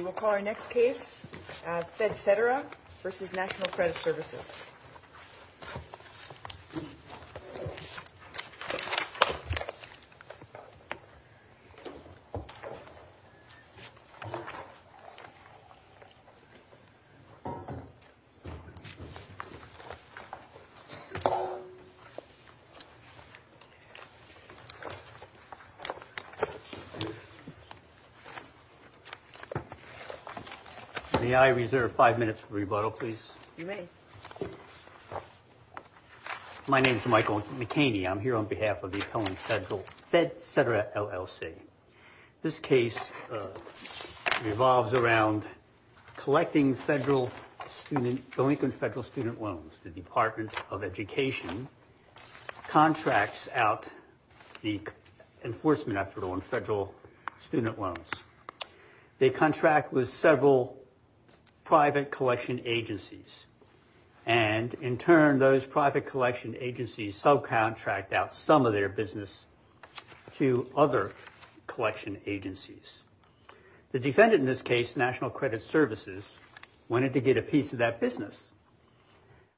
We'll call our next case, Fed Cetera v. National Credit Services. May I reserve five minutes for rebuttal, please? You may. My name is Michael McHaney. I'm here on behalf of the appellant federal Fed Cetera LLC. This case revolves around collecting the Lincoln Federal Student Loans. The Department of Education contracts out the enforcement effort on federal student loans. They contract with several private collection agencies. And in turn, those private collection agencies subcontract out some of their business to other collection agencies. The defendant in this case, National Credit Services, wanted to get a piece of that business.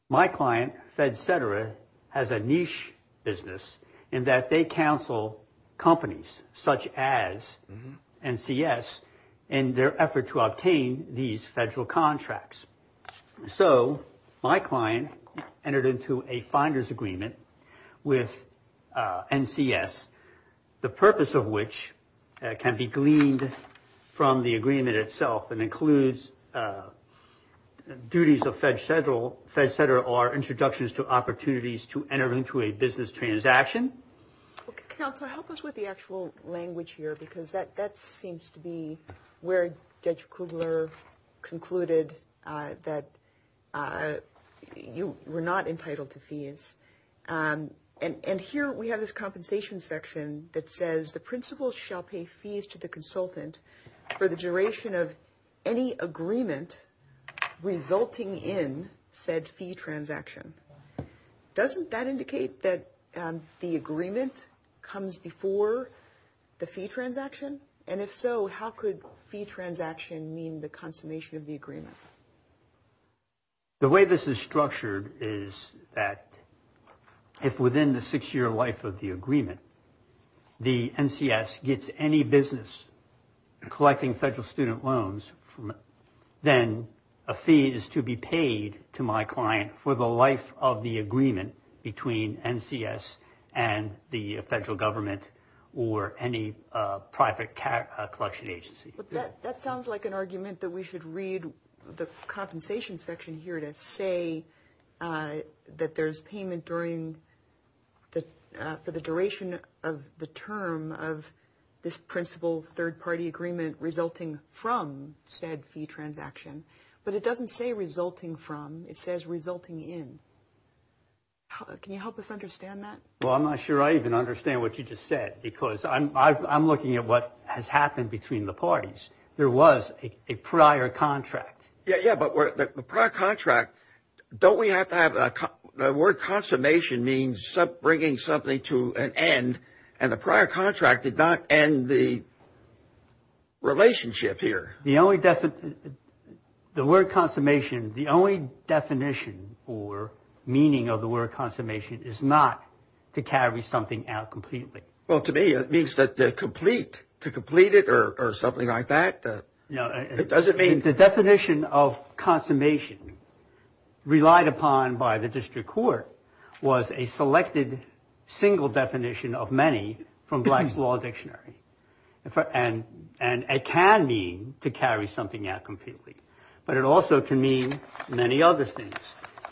My client, Fed Cetera, has a niche business in that they counsel companies such as NCS in their effort to obtain these federal contracts. So my client entered into a finder's agreement with NCS, the purpose of which can be gleaned from the agreement itself and includes duties of Fed Cetera or introductions to opportunities to enter into a business transaction. Counselor, help us with the actual language here because that seems to be where Judge Kugler concluded And here we have this compensation section that says the principal shall pay fees to the consultant for the duration of any agreement resulting in said fee transaction. Doesn't that indicate that the agreement comes before the fee transaction? And if so, how could fee transaction mean the consummation of the agreement? The way this is structured is that if within the six-year life of the agreement, the NCS gets any business collecting federal student loans, then a fee is to be paid to my client for the life of the agreement between NCS and the federal government or any private collection agency. But that sounds like an argument that we should read the compensation section here to say that there's payment for the duration of the term of this principal third-party agreement resulting from said fee transaction. But it doesn't say resulting from, it says resulting in. Can you help us understand that? Well, I'm not sure I even understand what you just said because I'm looking at what has happened between the parties. There was a prior contract. Yeah, but the prior contract, don't we have to have, the word consummation means bringing something to an end. And the prior contract did not end the relationship here. The only definition, the word consummation, the only definition or meaning of the word consummation is not to carry something out completely. Well, to me, it means that they're complete, to complete it or something like that. It doesn't mean. The definition of consummation relied upon by the district court was a selected single definition of many from Black's Law Dictionary. And it can mean to carry something out completely. But it also can mean many other things.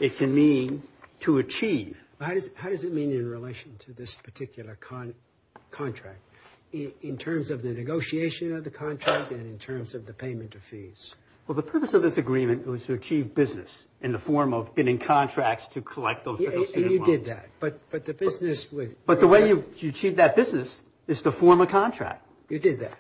It can mean to achieve. How does it mean in relation to this particular contract in terms of the negotiation of the contract and in terms of the payment of fees? Well, the purpose of this agreement was to achieve business in the form of getting contracts to collect those. And you did that. But the way you achieve that business is to form a contract. You did that.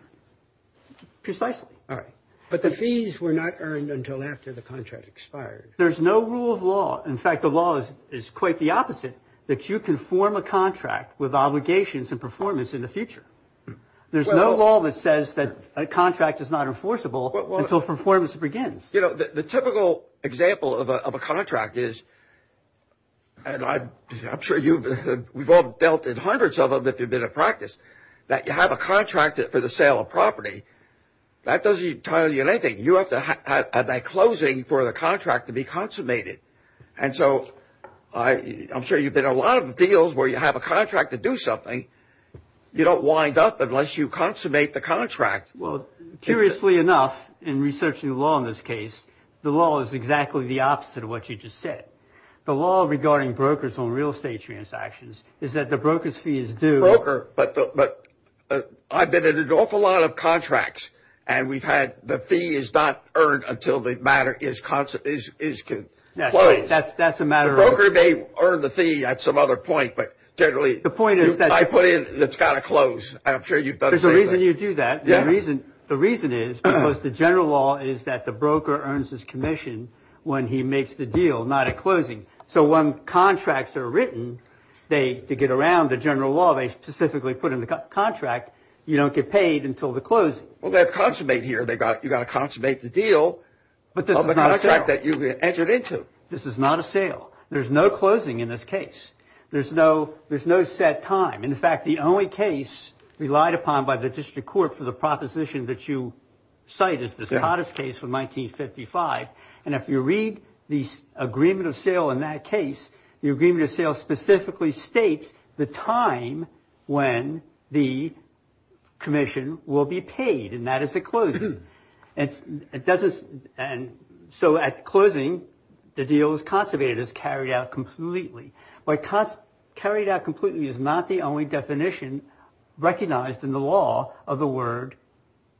Precisely. All right. But the fees were not earned until after the contract expired. There's no rule of law. In fact, the law is quite the opposite, that you can form a contract with obligations and performance in the future. There's no law that says that a contract is not enforceable until performance begins. You know, the typical example of a contract is, and I'm sure you've all dealt in hundreds of them if you've been in practice, that you have a contract for the sale of property. That doesn't tell you anything. You have to have that closing for the contract to be consummated. And so I'm sure you've been in a lot of deals where you have a contract to do something. You don't wind up unless you consummate the contract. Well, curiously enough, in researching the law in this case, the law is exactly the opposite of what you just said. The law regarding brokers on real estate transactions is that the broker's fee is due. Broker, but I've been in an awful lot of contracts, and we've had the fee is not earned until the matter is closed. That's a matter of. The broker may earn the fee at some other point, but generally. The point is that. I put in, it's got to close. I'm sure you've got a reason you do that. The reason the reason is because the general law is that the broker earns his commission when he makes the deal, not a closing. So when contracts are written, they get around the general law. They specifically put in the contract. You don't get paid until the close. Well, they consummate here. They got you got to consummate the deal. But the contract that you entered into. This is not a sale. There's no closing in this case. There's no there's no set time. In fact, the only case relied upon by the district court for the proposition that you cite is this hottest case from nineteen fifty five. And if you read the agreement of sale in that case, the agreement of sale specifically states the time when the commission will be paid. And that is a clue. And it doesn't. And so at closing, the deal is conservative, is carried out completely. Carried out completely is not the only definition recognized in the law of the word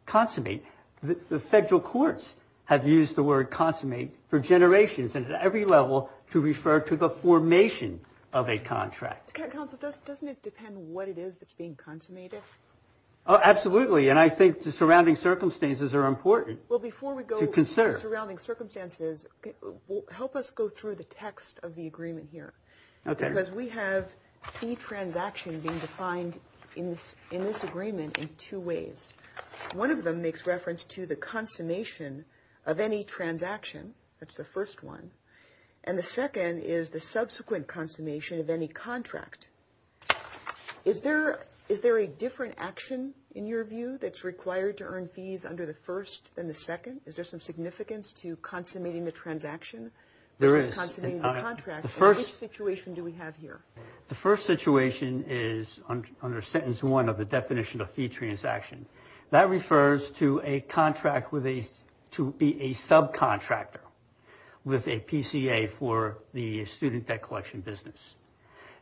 consummate. The federal courts have used the word consummate for generations and at every level to refer to the formation of a contract. Doesn't it depend what it is that's being consummated? Oh, absolutely. And I think the surrounding circumstances are important. Well, before we go concern surrounding circumstances, help us go through the text of the agreement here. OK, because we have a transaction being defined in this in this agreement in two ways. One of them makes reference to the consummation of any transaction. That's the first one. And the second is the subsequent consummation of any contract. Is there is there a different action in your view that's required to earn fees under the first and the second? Is there some significance to consummating the transaction? There is a contract. The first situation do we have here? The first situation is under sentence one of the definition of fee transaction. That refers to a contract with a to be a subcontractor with a PCA for the student debt collection business.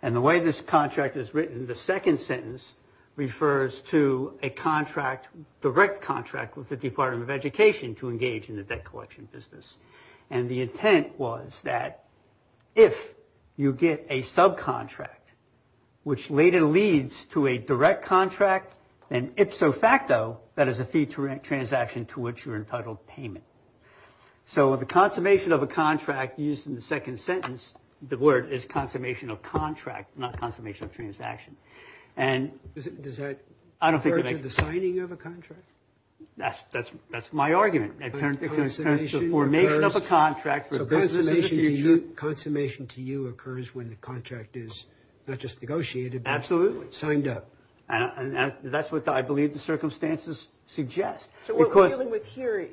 And the way this contract is written, the second sentence refers to a contract, direct contract with the Department of Education to engage in the debt collection business. And the intent was that if you get a subcontract, which later leads to a direct contract, then ipso facto, that is a fee transaction to which you're entitled payment. So the consummation of a contract used in the second sentence, the word is consummation of contract, not consummation of transaction. And does that I don't think the signing of a contract. That's that's that's my argument. And the formation of a contract for this is a new consummation to you occurs when the contract is not just negotiated. Absolutely. Signed up. And that's what I believe the circumstances suggest. So we're dealing with here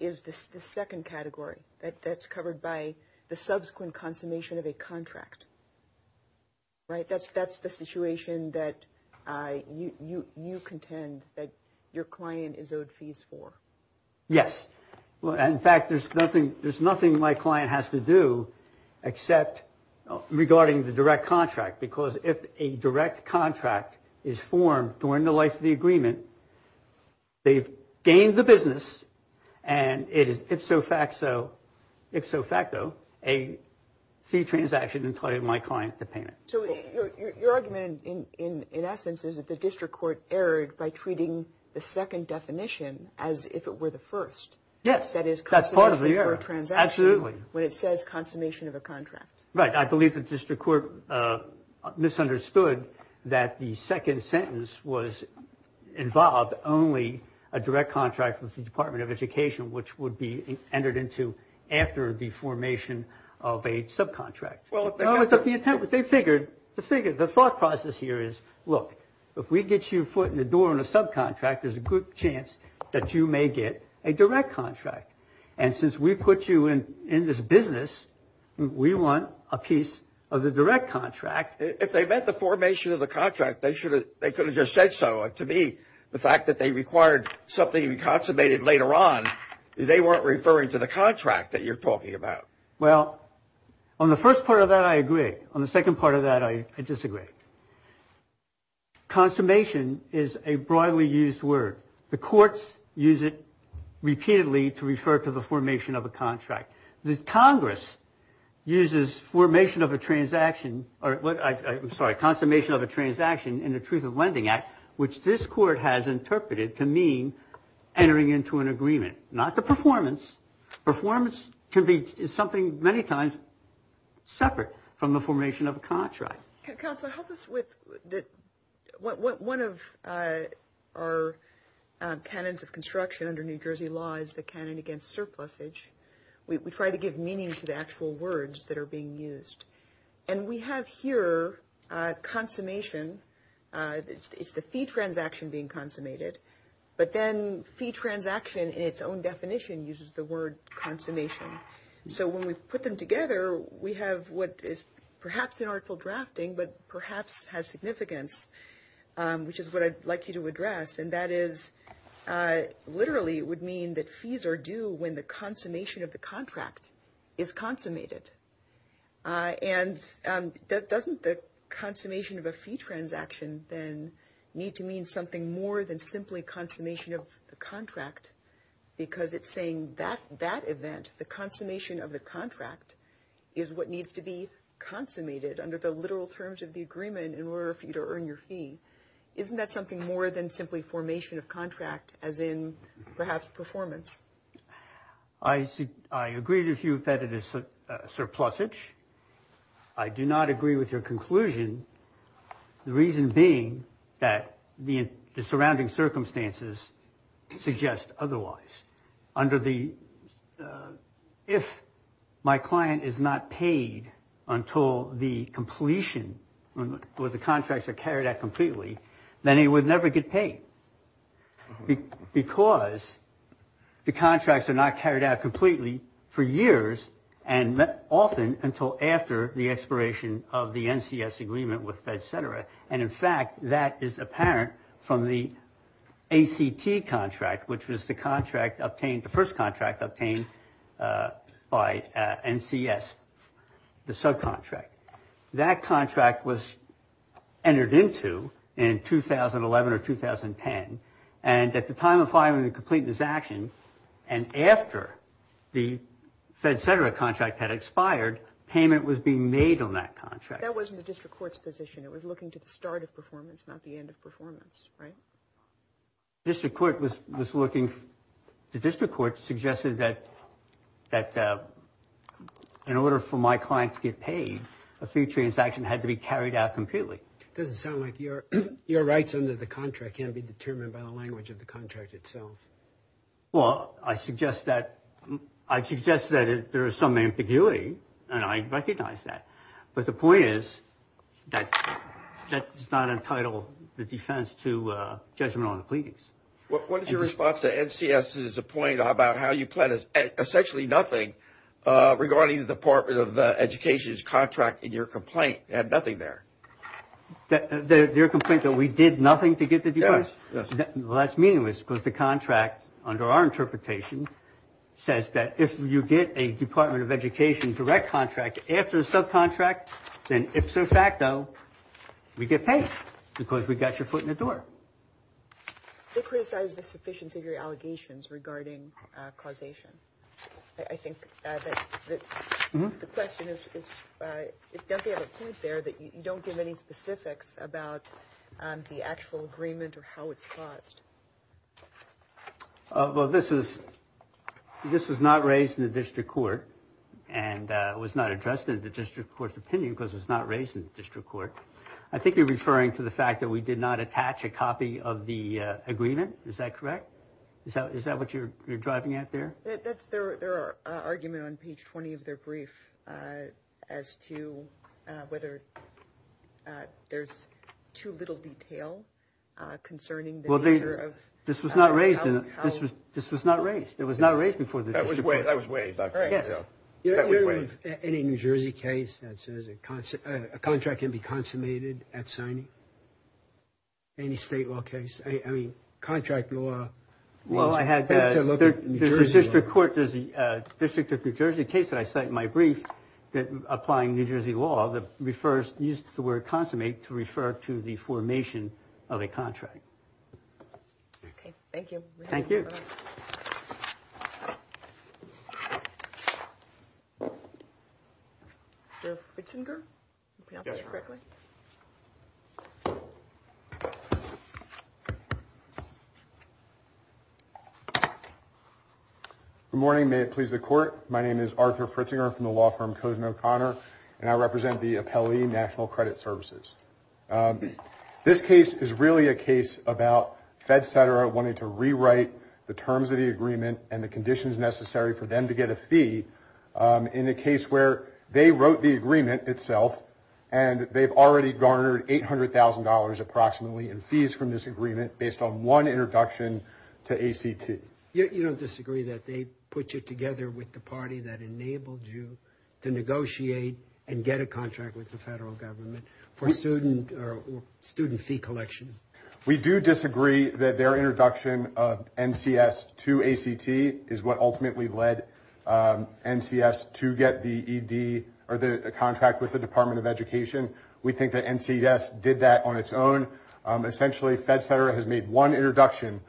is this the second category that's covered by the subsequent consummation of a contract. Right. That's that's the situation that you you you contend that your client is owed fees for. Yes. Well, in fact, there's nothing there's nothing my client has to do except regarding the direct contract, because if a direct contract is formed during the life of the agreement. They've gained the business and it is ipso facto, ipso facto, a fee transaction. Entitled my client to payment. So your argument in essence is that the district court erred by treating the second definition as if it were the first. Yes. That is that's part of the transaction. Absolutely. When it says consummation of a contract. Right. I believe the district court misunderstood that the second sentence was involved. Only a direct contract with the Department of Education, which would be entered into after the formation of a subcontract. Well, it's the attempt that they figured to figure the thought process here is, look, if we get your foot in the door on a subcontract, there's a good chance that you may get a direct contract. And since we put you in in this business, we want a piece of the direct contract. If they met the formation of the contract, they should they could have just said so. To me, the fact that they required something we consummated later on, they weren't referring to the contract that you're talking about. Well, on the first part of that, I agree. On the second part of that, I disagree. Consummation is a broadly used word. The courts use it repeatedly to refer to the formation of a contract. The Congress uses formation of a transaction or what? I'm sorry. Consummation of a transaction in the Truth of Lending Act, which this court has interpreted to mean entering into an agreement, not the performance. Performance can be something many times separate from the formation of a contract. Counsel, help us with that. One of our canons of construction under New Jersey law is the canon against surplus age. We try to give meaning to the actual words that are being used. And we have here consummation. It's the fee transaction being consummated. But then fee transaction in its own definition uses the word consummation. So when we put them together, we have what is perhaps an article drafting, but perhaps has significance, which is what I'd like you to address. And that is literally would mean that fees are due when the consummation of the contract is consummated. And that doesn't the consummation of a fee transaction then need to mean something more than simply consummation of the contract, because it's saying that that event, the consummation of the contract, is what needs to be consummated under the literal terms of the agreement in order for you to earn your fee. Isn't that something more than simply formation of contract as in perhaps performance? I see. I agree with you that it is surplusage. I do not agree with your conclusion. The reason being that the surrounding circumstances suggest otherwise. Under the if my client is not paid until the completion with the contracts are carried out completely, then he would never get paid because the contracts are not carried out completely for years and often until after the expiration of the NCS agreement with FedCetera. And in fact, that is apparent from the ACT contract, which was the contract obtained, the first contract obtained by NCS, the subcontract. That contract was entered into in 2011 or 2010. And at the time of filing the completeness action and after the FedCetera contract had expired, payment was being made on that contract. That wasn't the district court's position. It was looking to the start of performance, not the end of performance, right? District court was looking, the district court suggested that in order for my client to get paid, a fee transaction had to be carried out completely. It doesn't sound like your your rights under the contract can't be determined by the language of the contract itself. Well, I suggest that I suggest that there is some ambiguity and I recognize that. But the point is that that is not entitled the defense to judgment on the pleadings. What is your response to NCS's point about how you plan is essentially nothing regarding the Department of Education's contract and your complaint had nothing there. Their complaint that we did nothing to get the. Well, that's meaningless because the contract, under our interpretation, says that if you get a Department of Education direct contract after the subcontract, then if so facto, we get paid because we got your foot in the door. They criticize the sufficiency of your allegations regarding causation. I think the question is, is there a point there that you don't give any specifics about the actual agreement or how it's caused? Well, this is this is not raised in the district court and was not addressed in the district court opinion because it's not raised in the district court. I think you're referring to the fact that we did not attach a copy of the agreement. Is that correct? Is that what you're you're driving at there? That's their argument on page 20 of their brief as to whether there's too little detail concerning. Well, this was not raised. This was this was not raised. It was not raised before. That was waived. That was waived. Any New Jersey case that says a contract can be consummated at signing? Any state law case? I mean, contract law. Well, I had to look at the district court. There's a district of New Jersey case that I cite in my brief that applying New Jersey law that refers used the word consummate to refer to the formation of a contract. OK, thank you. Thank you. It's in there. Good morning. May it please the court. My name is Arthur Fritzinger from the law firm. Cousin O'Connor and I represent the appellee National Credit Services. This case is really a case about FedCenter wanting to rewrite the terms of the agreement and the conditions necessary for them to get a fee in a case where they wrote the agreement itself. And they've already garnered eight hundred thousand dollars approximately in fees from this agreement based on one introduction to A.C.T. You don't disagree that they put you together with the party that enabled you to negotiate and get a contract with the federal government for student or student fee collection? We do disagree that their introduction of N.C.S. to A.C.T. is what ultimately led N.C.S. to get the E.D. or the contract with the Department of Education. We think that N.C.S. did that on its own. Essentially, FedCenter has made one introduction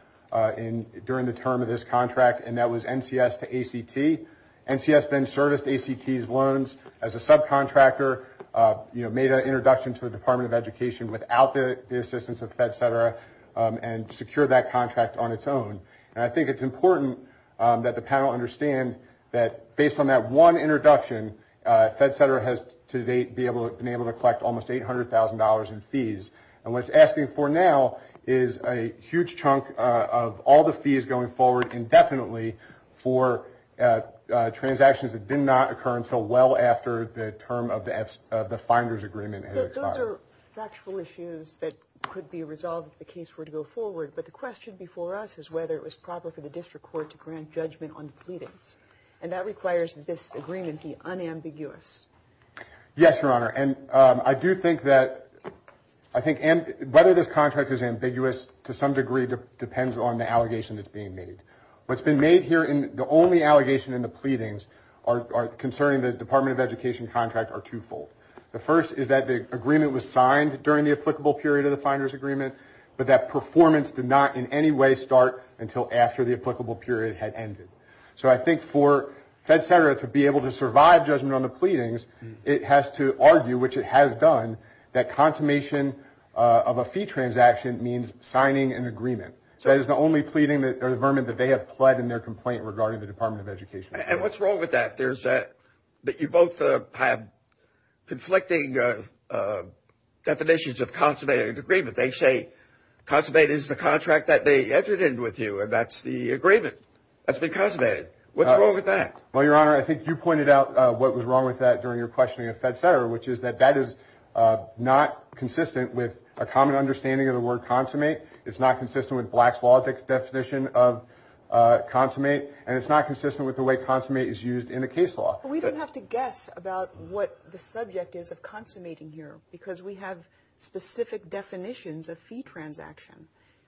during the term of this contract, and that was N.C.S. to A.C.T. N.C.S. then serviced A.C.T.'s loans as a subcontractor, made an introduction to the Department of Education without the assistance of FedCenter and secured that contract on its own. And I think it's important that the panel understand that based on that one introduction, FedCenter has to date been able to collect almost eight hundred thousand dollars in fees. And what it's asking for now is a huge chunk of all the fees going forward indefinitely for transactions that did not occur until well after the term of the finder's agreement has expired. Those are factual issues that could be resolved if the case were to go forward. But the question before us is whether it was proper for the district court to grant judgment on the pleadings. And that requires that this agreement be unambiguous. Yes, Your Honor. And I do think that I think whether this contract is ambiguous to some degree depends on the allegation that's being made. What's been made here in the only allegation in the pleadings are concerning the Department of Education contract are twofold. The first is that the agreement was signed during the applicable period of the finder's agreement, but that performance did not in any way start until after the applicable period had ended. So I think for FedCenter to be able to survive judgment on the pleadings, it has to argue, which it has done, that consummation of a fee transaction means signing an agreement. So that is the only pleading or vermin that they have pled in their complaint regarding the Department of Education. And what's wrong with that? There's that you both have conflicting definitions of consummated agreement. They say consummated is the contract that they entered in with you, and that's the agreement. That's been consummated. What's wrong with that? Well, Your Honor, I think you pointed out what was wrong with that during your questioning of FedCenter, which is that that is not consistent with a common understanding of the word consummate. It's not consistent with Black's law definition of consummate, and it's not consistent with the way consummate is used in the case law. We don't have to guess about what the subject is of consummating here, because we have specific definitions of fee transaction.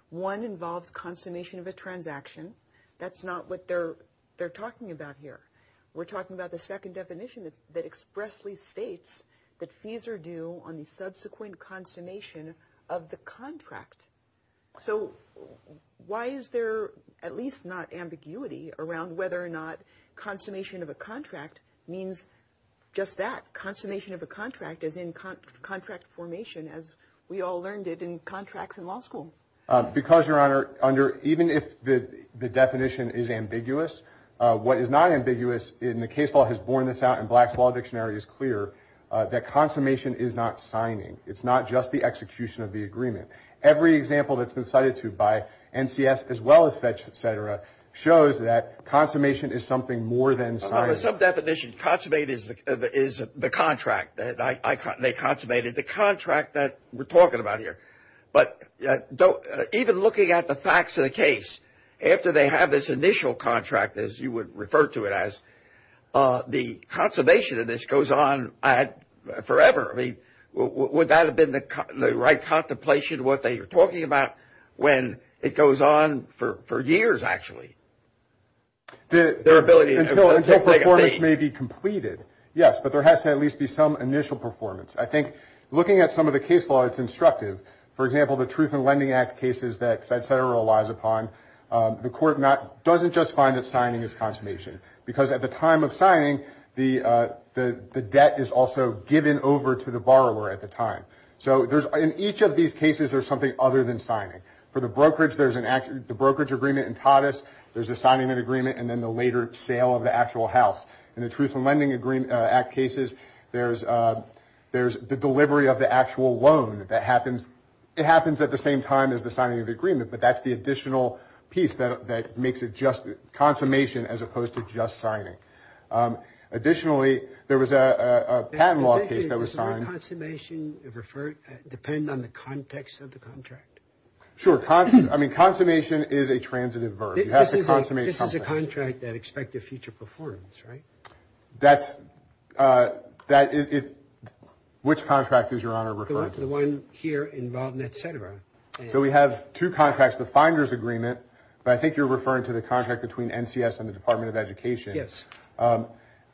One involves consummation of a transaction. That's not what they're talking about here. We're talking about the second definition that expressly states that fees are due on the subsequent consummation of the contract. So why is there at least not ambiguity around whether or not consummation of a contract means just that, as in contract formation, as we all learned it in contracts in law school? Because, Your Honor, even if the definition is ambiguous, what is not ambiguous in the case law has borne this out, and Black's law dictionary is clear, that consummation is not signing. It's not just the execution of the agreement. Every example that's been cited to by NCS as well as FedCenter shows that consummation is something more than signing. Well, there's some definition. Consummate is the contract that they consummated, the contract that we're talking about here. But even looking at the facts of the case, after they have this initial contract, as you would refer to it as, the consummation of this goes on forever. I mean, would that have been the right contemplation, what they were talking about, when it goes on for years, actually? Until performance may be completed, yes, but there has to at least be some initial performance. I think looking at some of the case law, it's instructive. For example, the Truth in Lending Act cases that FedCenter relies upon, the court doesn't just find that signing is consummation, because at the time of signing, the debt is also given over to the borrower at the time. So in each of these cases, there's something other than signing. For the brokerage, there's the brokerage agreement in TOTUS, there's the signing of the agreement, and then the later sale of the actual house. In the Truth in Lending Act cases, there's the delivery of the actual loan that happens. It happens at the same time as the signing of the agreement, but that's the additional piece that makes it just consummation as opposed to just signing. Does the word consummation depend on the context of the contract? Sure. I mean, consummation is a transitive verb. You have to consummate something. This is a contract that expects a future performance, right? That's – which contract is Your Honor referring to? The one here involving et cetera. So we have two contracts, the finder's agreement, but I think you're referring to the contract between NCS and the Department of Education. Yes.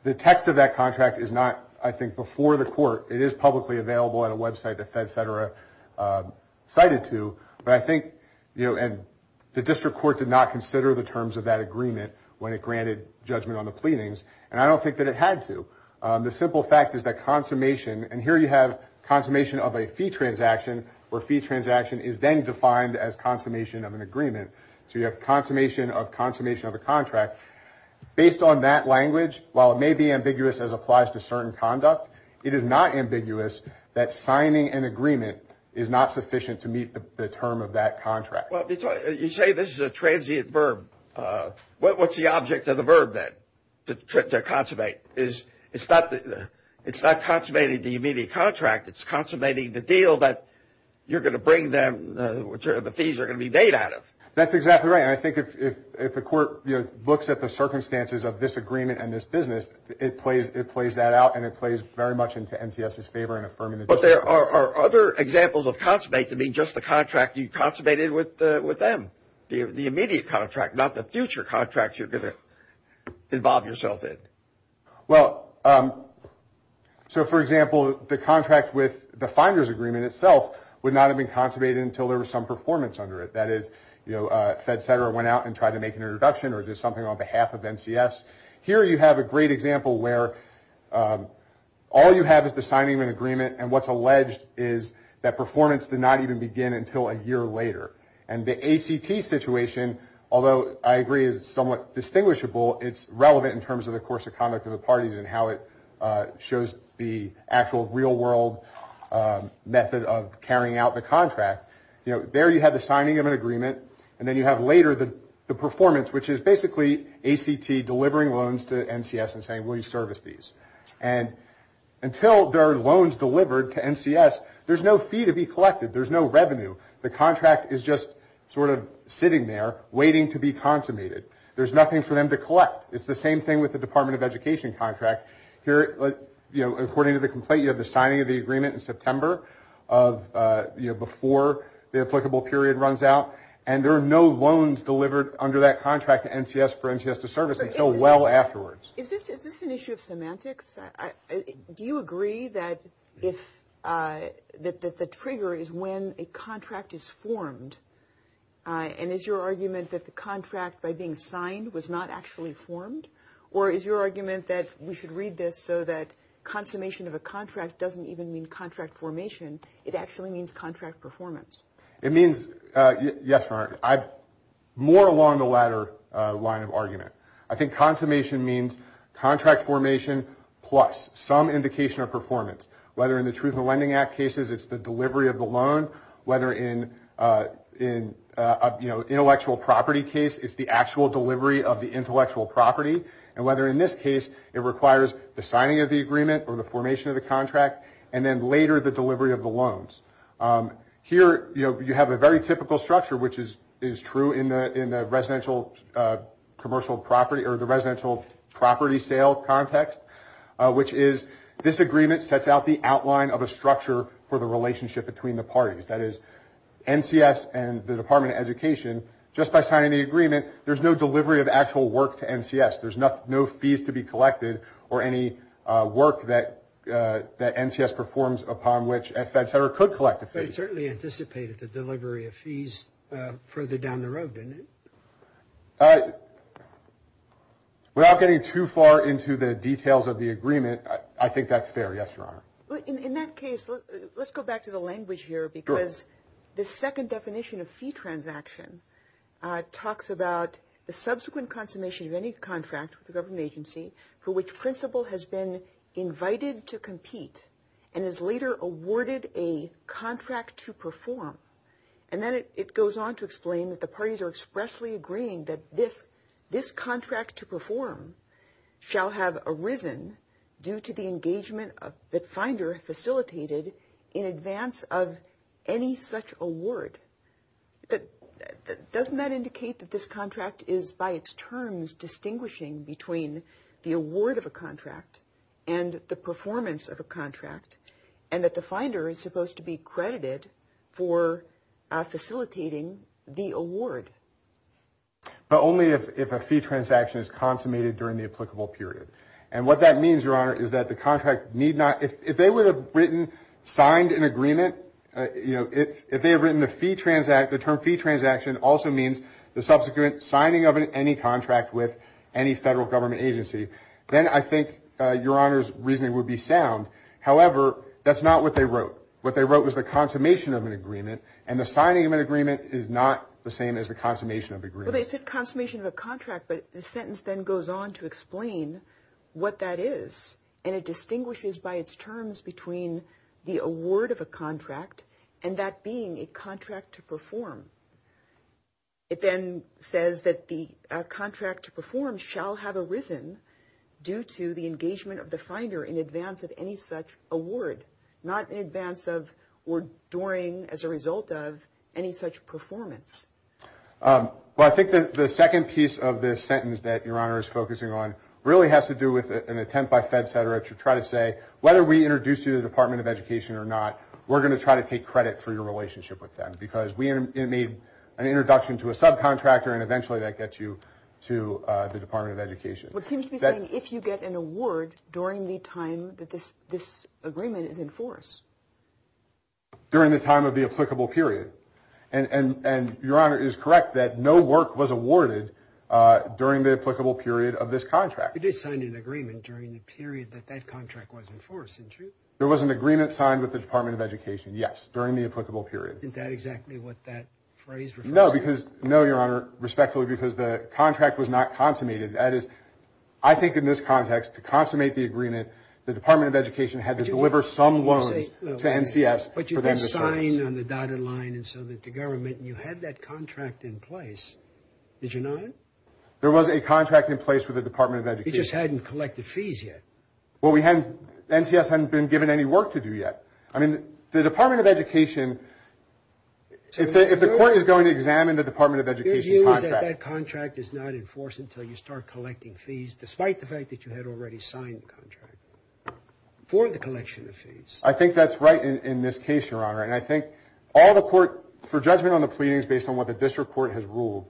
The text of that contract is not, I think, before the court. It is publicly available at a website that FedCetera cited to. But I think – and the district court did not consider the terms of that agreement when it granted judgment on the pleadings, and I don't think that it had to. The simple fact is that consummation – and here you have consummation of a fee transaction, where fee transaction is then defined as consummation of an agreement. So you have consummation of consummation of a contract. Based on that language, while it may be ambiguous as applies to certain conduct, it is not ambiguous that signing an agreement is not sufficient to meet the term of that contract. Well, you say this is a transient verb. What's the object of the verb then to consummate? It's not consummating the immediate contract. It's consummating the deal that you're going to bring them – the fees are going to be made out of. That's exactly right. And I think if the court looks at the circumstances of this agreement and this business, it plays that out and it plays very much into NTS's favor in affirming the district court. But there are other examples of consummate to mean just the contract you consummated with them, the immediate contract, not the future contract you're going to involve yourself in. Well, so for example, the contract with the finder's agreement itself would not have been consummated until there was some performance under it. That is, you know, Fed Center went out and tried to make an introduction or did something on behalf of NCS. Here you have a great example where all you have is the signing of an agreement and what's alleged is that performance did not even begin until a year later. And the ACT situation, although I agree is somewhat distinguishable, it's relevant in terms of the course of conduct of the parties and how it shows the actual real world method of carrying out the contract. You know, there you have the signing of an agreement and then you have later the performance, which is basically ACT delivering loans to NCS and saying, will you service these? And until there are loans delivered to NCS, there's no fee to be collected. There's no revenue. The contract is just sort of sitting there waiting to be consummated. There's nothing for them to collect. It's the same thing with the Department of Education contract. Here, you know, according to the complaint, you have the signing of the agreement in September before the applicable period runs out. And there are no loans delivered under that contract to NCS for NCS to service until well afterwards. Is this an issue of semantics? Do you agree that the trigger is when a contract is formed? And is your argument that the contract, by being signed, was not actually formed? Or is your argument that we should read this so that consummation of a contract doesn't even mean contract formation, it actually means contract performance? It means, yes, more along the latter line of argument. I think consummation means contract formation plus some indication of performance, whether in the Truth in the Lending Act cases it's the delivery of the loan, whether in an intellectual property case it's the actual delivery of the intellectual property, and whether in this case it requires the signing of the agreement or the formation of the contract, and then later the delivery of the loans. Here, you know, you have a very typical structure, which is true in the residential commercial property or the residential property sale context, which is this agreement sets out the outline of a structure for the relationship between the parties. That is, NCS and the Department of Education, just by signing the agreement, there's no delivery of actual work to NCS. There's no fees to be collected or any work that NCS performs upon which Fed Center could collect a fee. But it certainly anticipated the delivery of fees further down the road, didn't it? Without getting too far into the details of the agreement, I think that's fair, yes, Your Honor. In that case, let's go back to the language here, because the second definition of fee transaction talks about the subsequent consummation of any contract with the government agency for which principal has been invited to compete and is later awarded a contract to perform. And then it goes on to explain that the parties are expressly agreeing that this contract to perform shall have arisen due to the engagement that Finder facilitated in advance of any such award. But doesn't that indicate that this contract is by its terms distinguishing between the award of a contract and the performance of a contract, and that the Finder is supposed to be credited for facilitating the award? But only if a fee transaction is consummated during the applicable period. And what that means, Your Honor, is that the contract need not – if they would have written, signed an agreement, you know, if they had written the term fee transaction also means the subsequent signing of any contract with any federal government agency, then I think Your Honor's reasoning would be sound. However, that's not what they wrote. What they wrote was the consummation of an agreement, and the signing of an agreement is not the same as the consummation of an agreement. Well, they said consummation of a contract, but the sentence then goes on to explain what that is, and it distinguishes by its terms between the award of a contract and that being a contract to perform. It then says that the contract to perform shall have arisen due to the engagement of the Finder in advance of any such award, not in advance of or during, as a result of, any such performance. Well, I think that the second piece of this sentence that Your Honor is focusing on really has to do with an attempt by FedSederich to try to say, whether we introduce you to the Department of Education or not, we're going to try to take credit for your relationship with them, because we made an introduction to a subcontractor, and eventually that gets you to the Department of Education. What seems to be saying, if you get an award during the time that this agreement is in force? During the time of the applicable period. And Your Honor is correct that no work was awarded during the applicable period of this contract. It is signed in agreement during the period that that contract was in force, isn't it? There was an agreement signed with the Department of Education, yes, during the applicable period. Isn't that exactly what that phrase refers to? No, Your Honor, respectfully, because the contract was not consummated. That is, I think in this context, to consummate the agreement, the Department of Education had to deliver some loans to NCS for them to sign. But you didn't sign on the dotted line so that the government, you had that contract in place, did you not? There was a contract in place with the Department of Education. You just hadn't collected fees yet. Well, NCS hadn't been given any work to do yet. I mean, the Department of Education, if the court is going to examine the Department of Education contract. That means that that contract is not in force until you start collecting fees, despite the fact that you had already signed the contract, for the collection of fees. I think that's right in this case, Your Honor. And I think all the court, for judgment on the pleadings based on what the district court has ruled,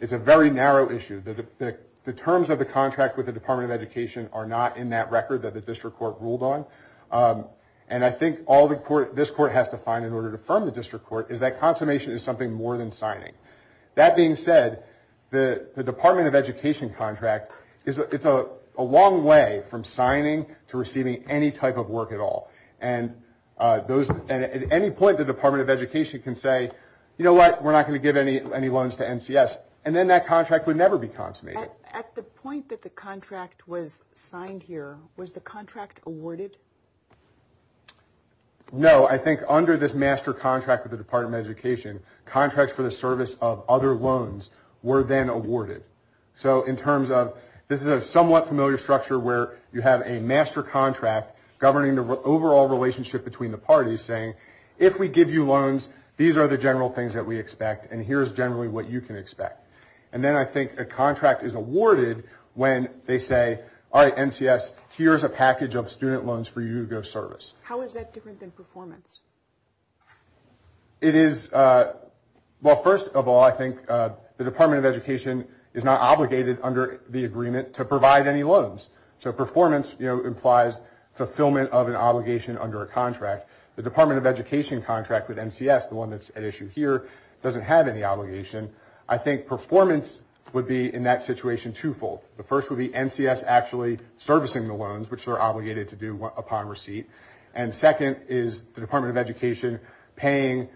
it's a very narrow issue. The terms of the contract with the Department of Education are not in that record that the district court ruled on. And I think all this court has to find in order to affirm the district court is that consummation is something more than signing. That being said, the Department of Education contract, it's a long way from signing to receiving any type of work at all. And at any point, the Department of Education can say, you know what, we're not going to give any loans to NCS. And then that contract would never be consummated. At the point that the contract was signed here, was the contract awarded? No. So I think under this master contract with the Department of Education, contracts for the service of other loans were then awarded. So in terms of this is a somewhat familiar structure where you have a master contract governing the overall relationship between the parties saying, if we give you loans, these are the general things that we expect, and here's generally what you can expect. And then I think a contract is awarded when they say, all right, NCS, here's a package of student loans for you to go service. How is that different than performance? It is, well, first of all, I think the Department of Education is not obligated under the agreement to provide any loans. So performance, you know, implies fulfillment of an obligation under a contract. The Department of Education contract with NCS, the one that's at issue here, doesn't have any obligation. I think performance would be in that situation twofold. The first would be NCS actually servicing the loans, which they're obligated to do upon receipt. And second is the Department of Education paying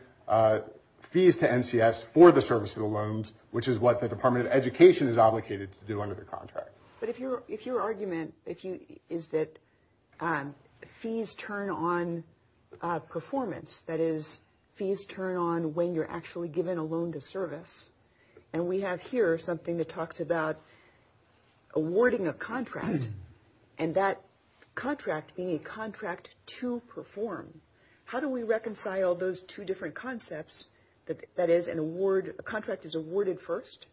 fees to NCS for the service of the loans, which is what the Department of Education is obligated to do under the contract. But if your argument is that fees turn on performance, that is, fees turn on when you're actually given a loan to service, and we have here something that talks about awarding a contract, and that contract being a contract to perform. How do we reconcile those two different concepts, that is, a contract is awarded first,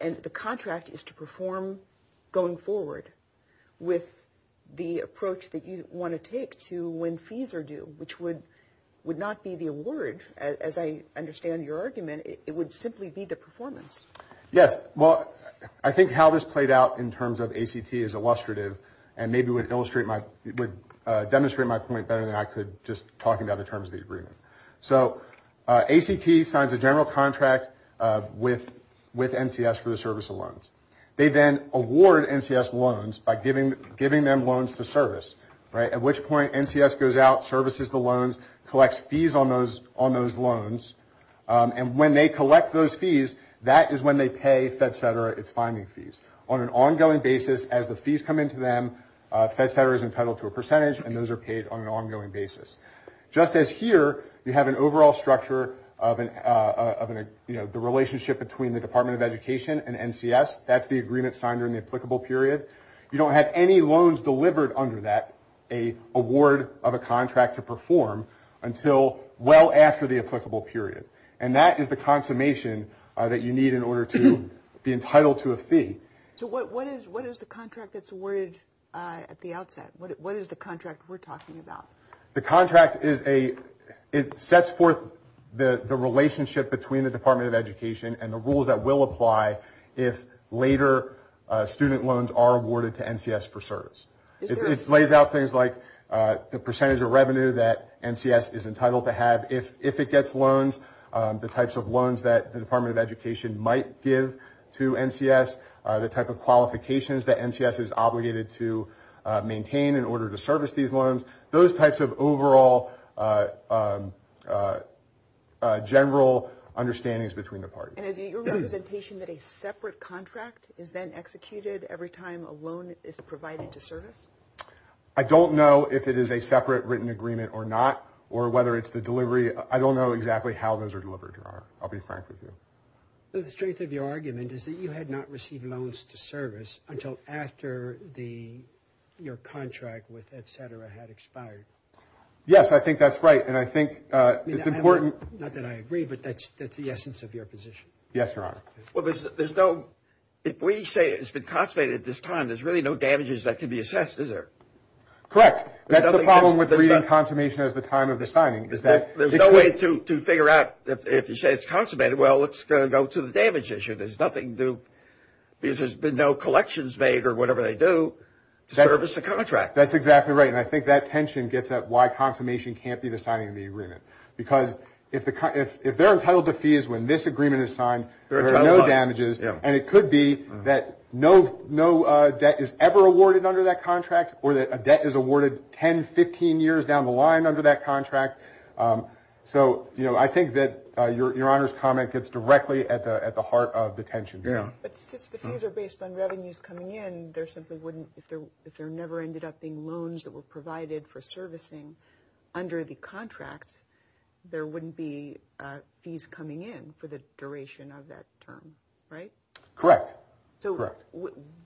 and the contract is to perform going forward with the approach that you want to take to when fees are due, which would not be the award, as I understand your argument. It would simply be the performance. Yes. Well, I think how this played out in terms of ACT is illustrative and maybe would demonstrate my point better than I could just talking about the terms of the agreement. So ACT signs a general contract with NCS for the service of loans. They then award NCS loans by giving them loans to service, right, at which point NCS goes out, services the loans, collects fees on those loans, and when they collect those fees, that is when they pay FedCetera its fining fees. On an ongoing basis, as the fees come into them, FedCetera is entitled to a percentage, and those are paid on an ongoing basis. Just as here, you have an overall structure of the relationship between the Department of Education and NCS. That's the agreement signed during the applicable period. You don't have any loans delivered under that, an award of a contract to perform, until well after the applicable period. And that is the consummation that you need in order to be entitled to a fee. So what is the contract that's awarded at the outset? What is the contract we're talking about? The contract is a – it sets forth the relationship between the Department of Education and the rules that will apply if later student loans are awarded to NCS for service. It lays out things like the percentage of revenue that NCS is entitled to have if it gets loans, the types of loans that the Department of Education might give to NCS, the type of qualifications that NCS is obligated to maintain in order to service these loans, those types of overall general understandings between the parties. And is it your representation that a separate contract is then executed every time a loan is provided to service? I don't know if it is a separate written agreement or not, or whether it's the delivery. I don't know exactly how those are delivered, Your Honor. I'll be frank with you. The strength of your argument is that you had not received loans to service until after your contract with etc. had expired. Yes, I think that's right, and I think it's important. Not that I agree, but that's the essence of your position. Yes, Your Honor. Well, there's no – if we say it's been consummated at this time, there's really no damages that can be assessed, is there? Correct. That's the problem with reading consummation as the time of the signing, is that – There's no way to figure out if you say it's consummated, well, it's going to go to the damage issue. There's nothing to – because there's been no collections made or whatever they do to service the contract. That's exactly right, and I think that tension gets at why consummation can't be the signing of the agreement. Because if they're entitled to fees when this agreement is signed, there are no damages, and it could be that no debt is ever awarded under that contract or that a debt is awarded 10, 15 years down the line under that contract. So I think that Your Honor's comment gets directly at the heart of the tension. But since the fees are based on revenues coming in, there simply wouldn't – if there never ended up being loans that were provided for servicing under the contract, there wouldn't be fees coming in for the duration of that term, right? Correct. So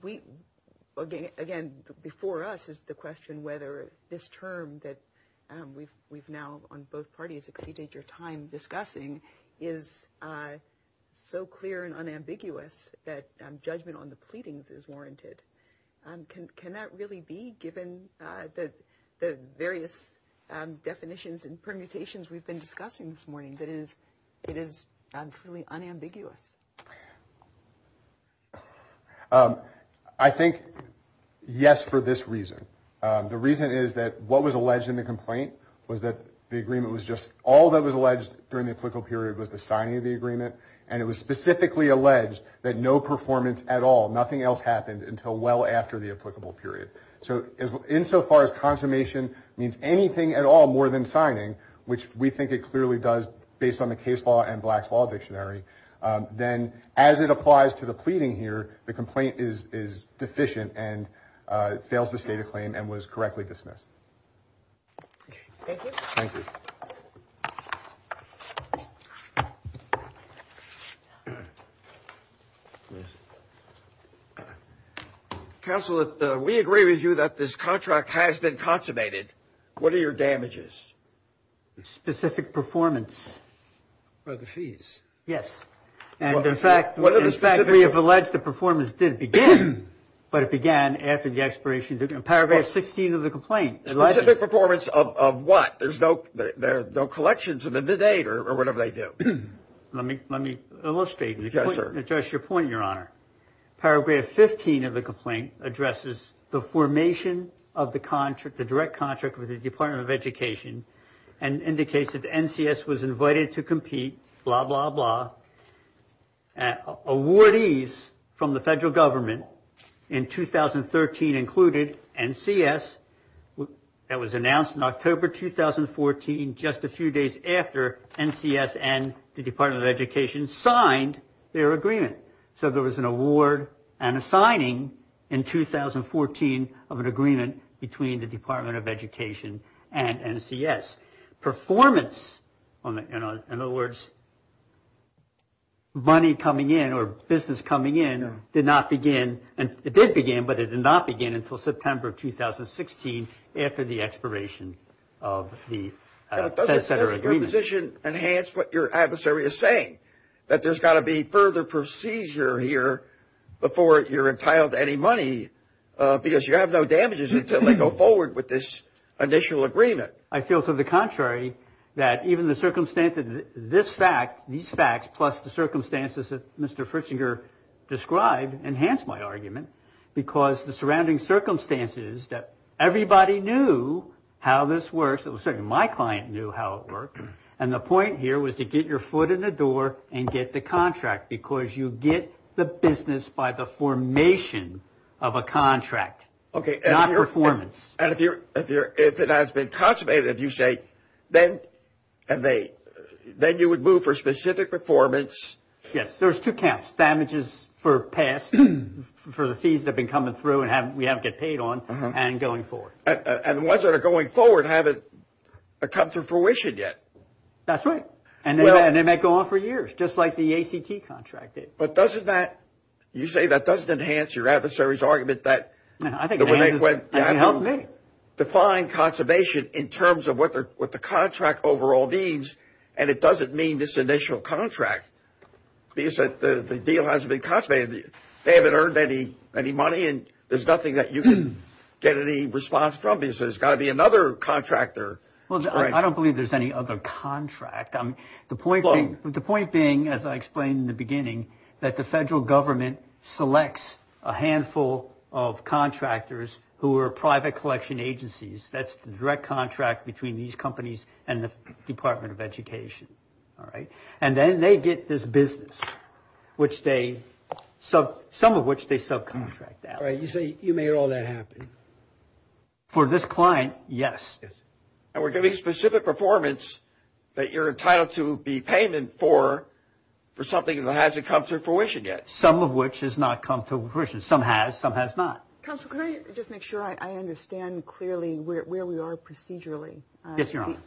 we – again, before us is the question whether this term that we've now on both parties exceeded your time discussing is so clear and unambiguous that judgment on the pleadings is warranted. Can that really be, given the various definitions and permutations we've been discussing this morning, that it is truly unambiguous? I think yes for this reason. The reason is that what was alleged in the complaint was that the agreement was just – all that was alleged during the applicable period was the signing of the agreement, and it was specifically alleged that no performance at all, nothing else happened until well after the applicable period. So insofar as consummation means anything at all more than signing, which we think it clearly does based on the case law and Black's Law Dictionary, then as it applies to the pleading here, the complaint is deficient and fails to state a claim and was correctly dismissed. Thank you. Thank you. Counsel, we agree with you that this contract has been consummated. What are your damages? Specific performance. For the fees. Yes. And, in fact, we have alleged the performance did begin, but it began after the expiration of Paragraph 16 of the complaint. Specific performance of what? There's no collection to the date or whatever they do. Let me illustrate and address your point, Your Honor. Paragraph 15 of the complaint addresses the formation of the contract, the direct contract with the Department of Education, and indicates that the NCS was invited to compete, blah, blah, blah. Awardees from the federal government in 2013 included NCS. That was announced in October 2014, just a few days after NCS and the Department of Education signed their agreement. So there was an award and a signing in 2014 of an agreement between the Department of Education and NCS. Performance, in other words, money coming in or business coming in did not begin, it did begin, but it did not begin until September of 2016 after the expiration of the agreement. Doesn't your position enhance what your adversary is saying, that there's got to be further procedure here before you're entitled to any money, because you have no damages until they go forward with this initial agreement? I feel to the contrary, that even the circumstance of this fact, these facts, plus the circumstances that Mr. Fritzinger described, enhance my argument, because the surrounding circumstances that everybody knew how this works, certainly my client knew how it worked, and the point here was to get your foot in the door and get the contract, because you get the business by the formation of a contract, not performance. Okay, and if it has been consummated, if you say, then you would move for specific performance. Yes, there's two counts, damages for past, for the fees that have been coming through and we haven't got paid on, and going forward. And the ones that are going forward haven't come to fruition yet. That's right. And they might go on for years, just like the ACT contract did. But doesn't that, you say that doesn't enhance your adversary's argument that I think it helps me. Define consummation in terms of what the contract overall means, and it doesn't mean this initial contract, because the deal hasn't been consummated. They haven't earned any money, and there's nothing that you can get any response from, because there's got to be another contractor. Well, I don't believe there's any other contract. The point being, as I explained in the beginning, that the federal government selects a handful of contractors who are private collection agencies. That's the direct contract between these companies and the Department of Education. All right. And then they get this business, some of which they subcontract out. You say you made all that happen. For this client, yes. Yes. And we're giving specific performance that you're entitled to be payment for, for something that hasn't come to fruition yet. Some of which has not come to fruition. Some has. Some has not. Counsel, can I just make sure I understand clearly where we are procedurally? Yes, Your Honor.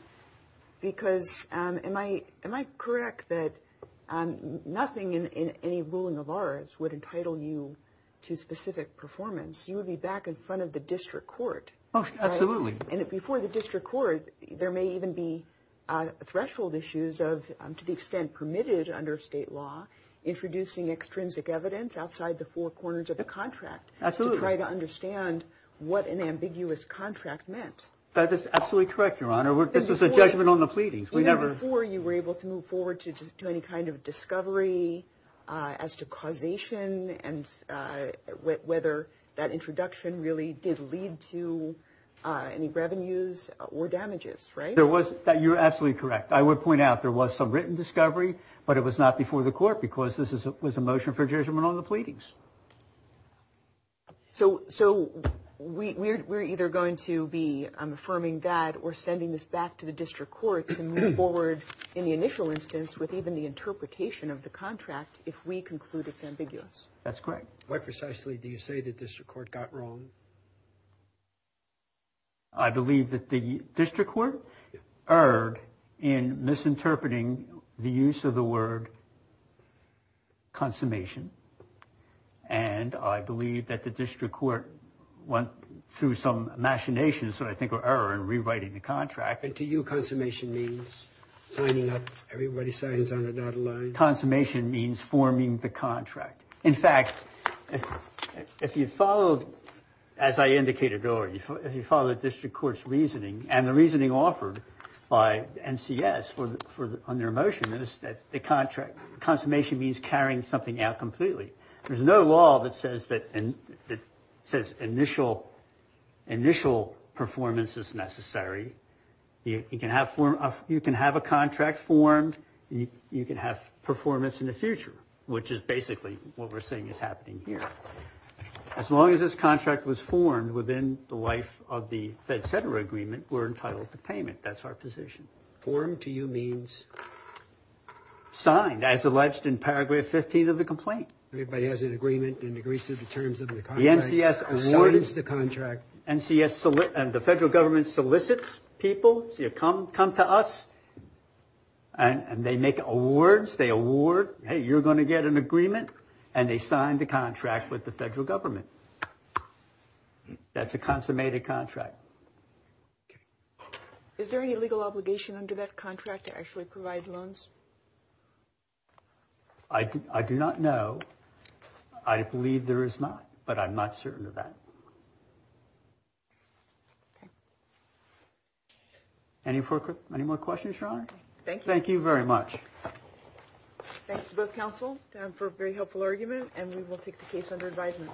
Because am I correct that nothing in any ruling of ours would entitle you to specific performance? You would be back in front of the district court. Absolutely. And before the district court, there may even be threshold issues of, to the extent permitted under state law, introducing extrinsic evidence outside the four corners of the contract. Absolutely. To try to understand what an ambiguous contract meant. That is absolutely correct, Your Honor. This was a judgment on the pleadings. Even before you were able to move forward to any kind of discovery as to causation and whether that introduction really did lead to any revenues or damages, right? You're absolutely correct. I would point out there was some written discovery, but it was not before the court because this was a motion for judgment on the pleadings. So we're either going to be affirming that or sending this back to the district court to move forward in the initial instance with even the interpretation of the contract if we conclude it's ambiguous. That's correct. Why precisely do you say the district court got wrong? I believe that the district court erred in misinterpreting the use of the word consummation. And I believe that the district court went through some machinations that I think were error in rewriting the contract. And to you, consummation means signing up? Everybody signs on or not aligned? Consummation means forming the contract. In fact, if you follow, as I indicated earlier, if you follow the district court's reasoning and the reasoning offered by NCS on their motion is that the consummation means carrying something out completely. There's no law that says initial performance is necessary. You can have a contract formed. You can have performance in the future, which is basically what we're seeing is happening here. As long as this contract was formed within the life of the Fed-Center Agreement, we're entitled to payment. That's our position. Formed to you means? Signed, as alleged in Paragraph 15 of the complaint. Everybody has an agreement and agrees to the terms of the contract. The NCS awards the contract. NCS and the federal government solicits people to come to us and they make awards. They award, hey, you're going to get an agreement. And they sign the contract with the federal government. That's a consummated contract. Okay. Is there any legal obligation under that contract to actually provide loans? I do not know. I believe there is not, but I'm not certain of that. Okay. Any more questions, Your Honor? Thank you. Thank you very much. Thanks to both counsel for a very helpful argument, and we will take the case under advisement.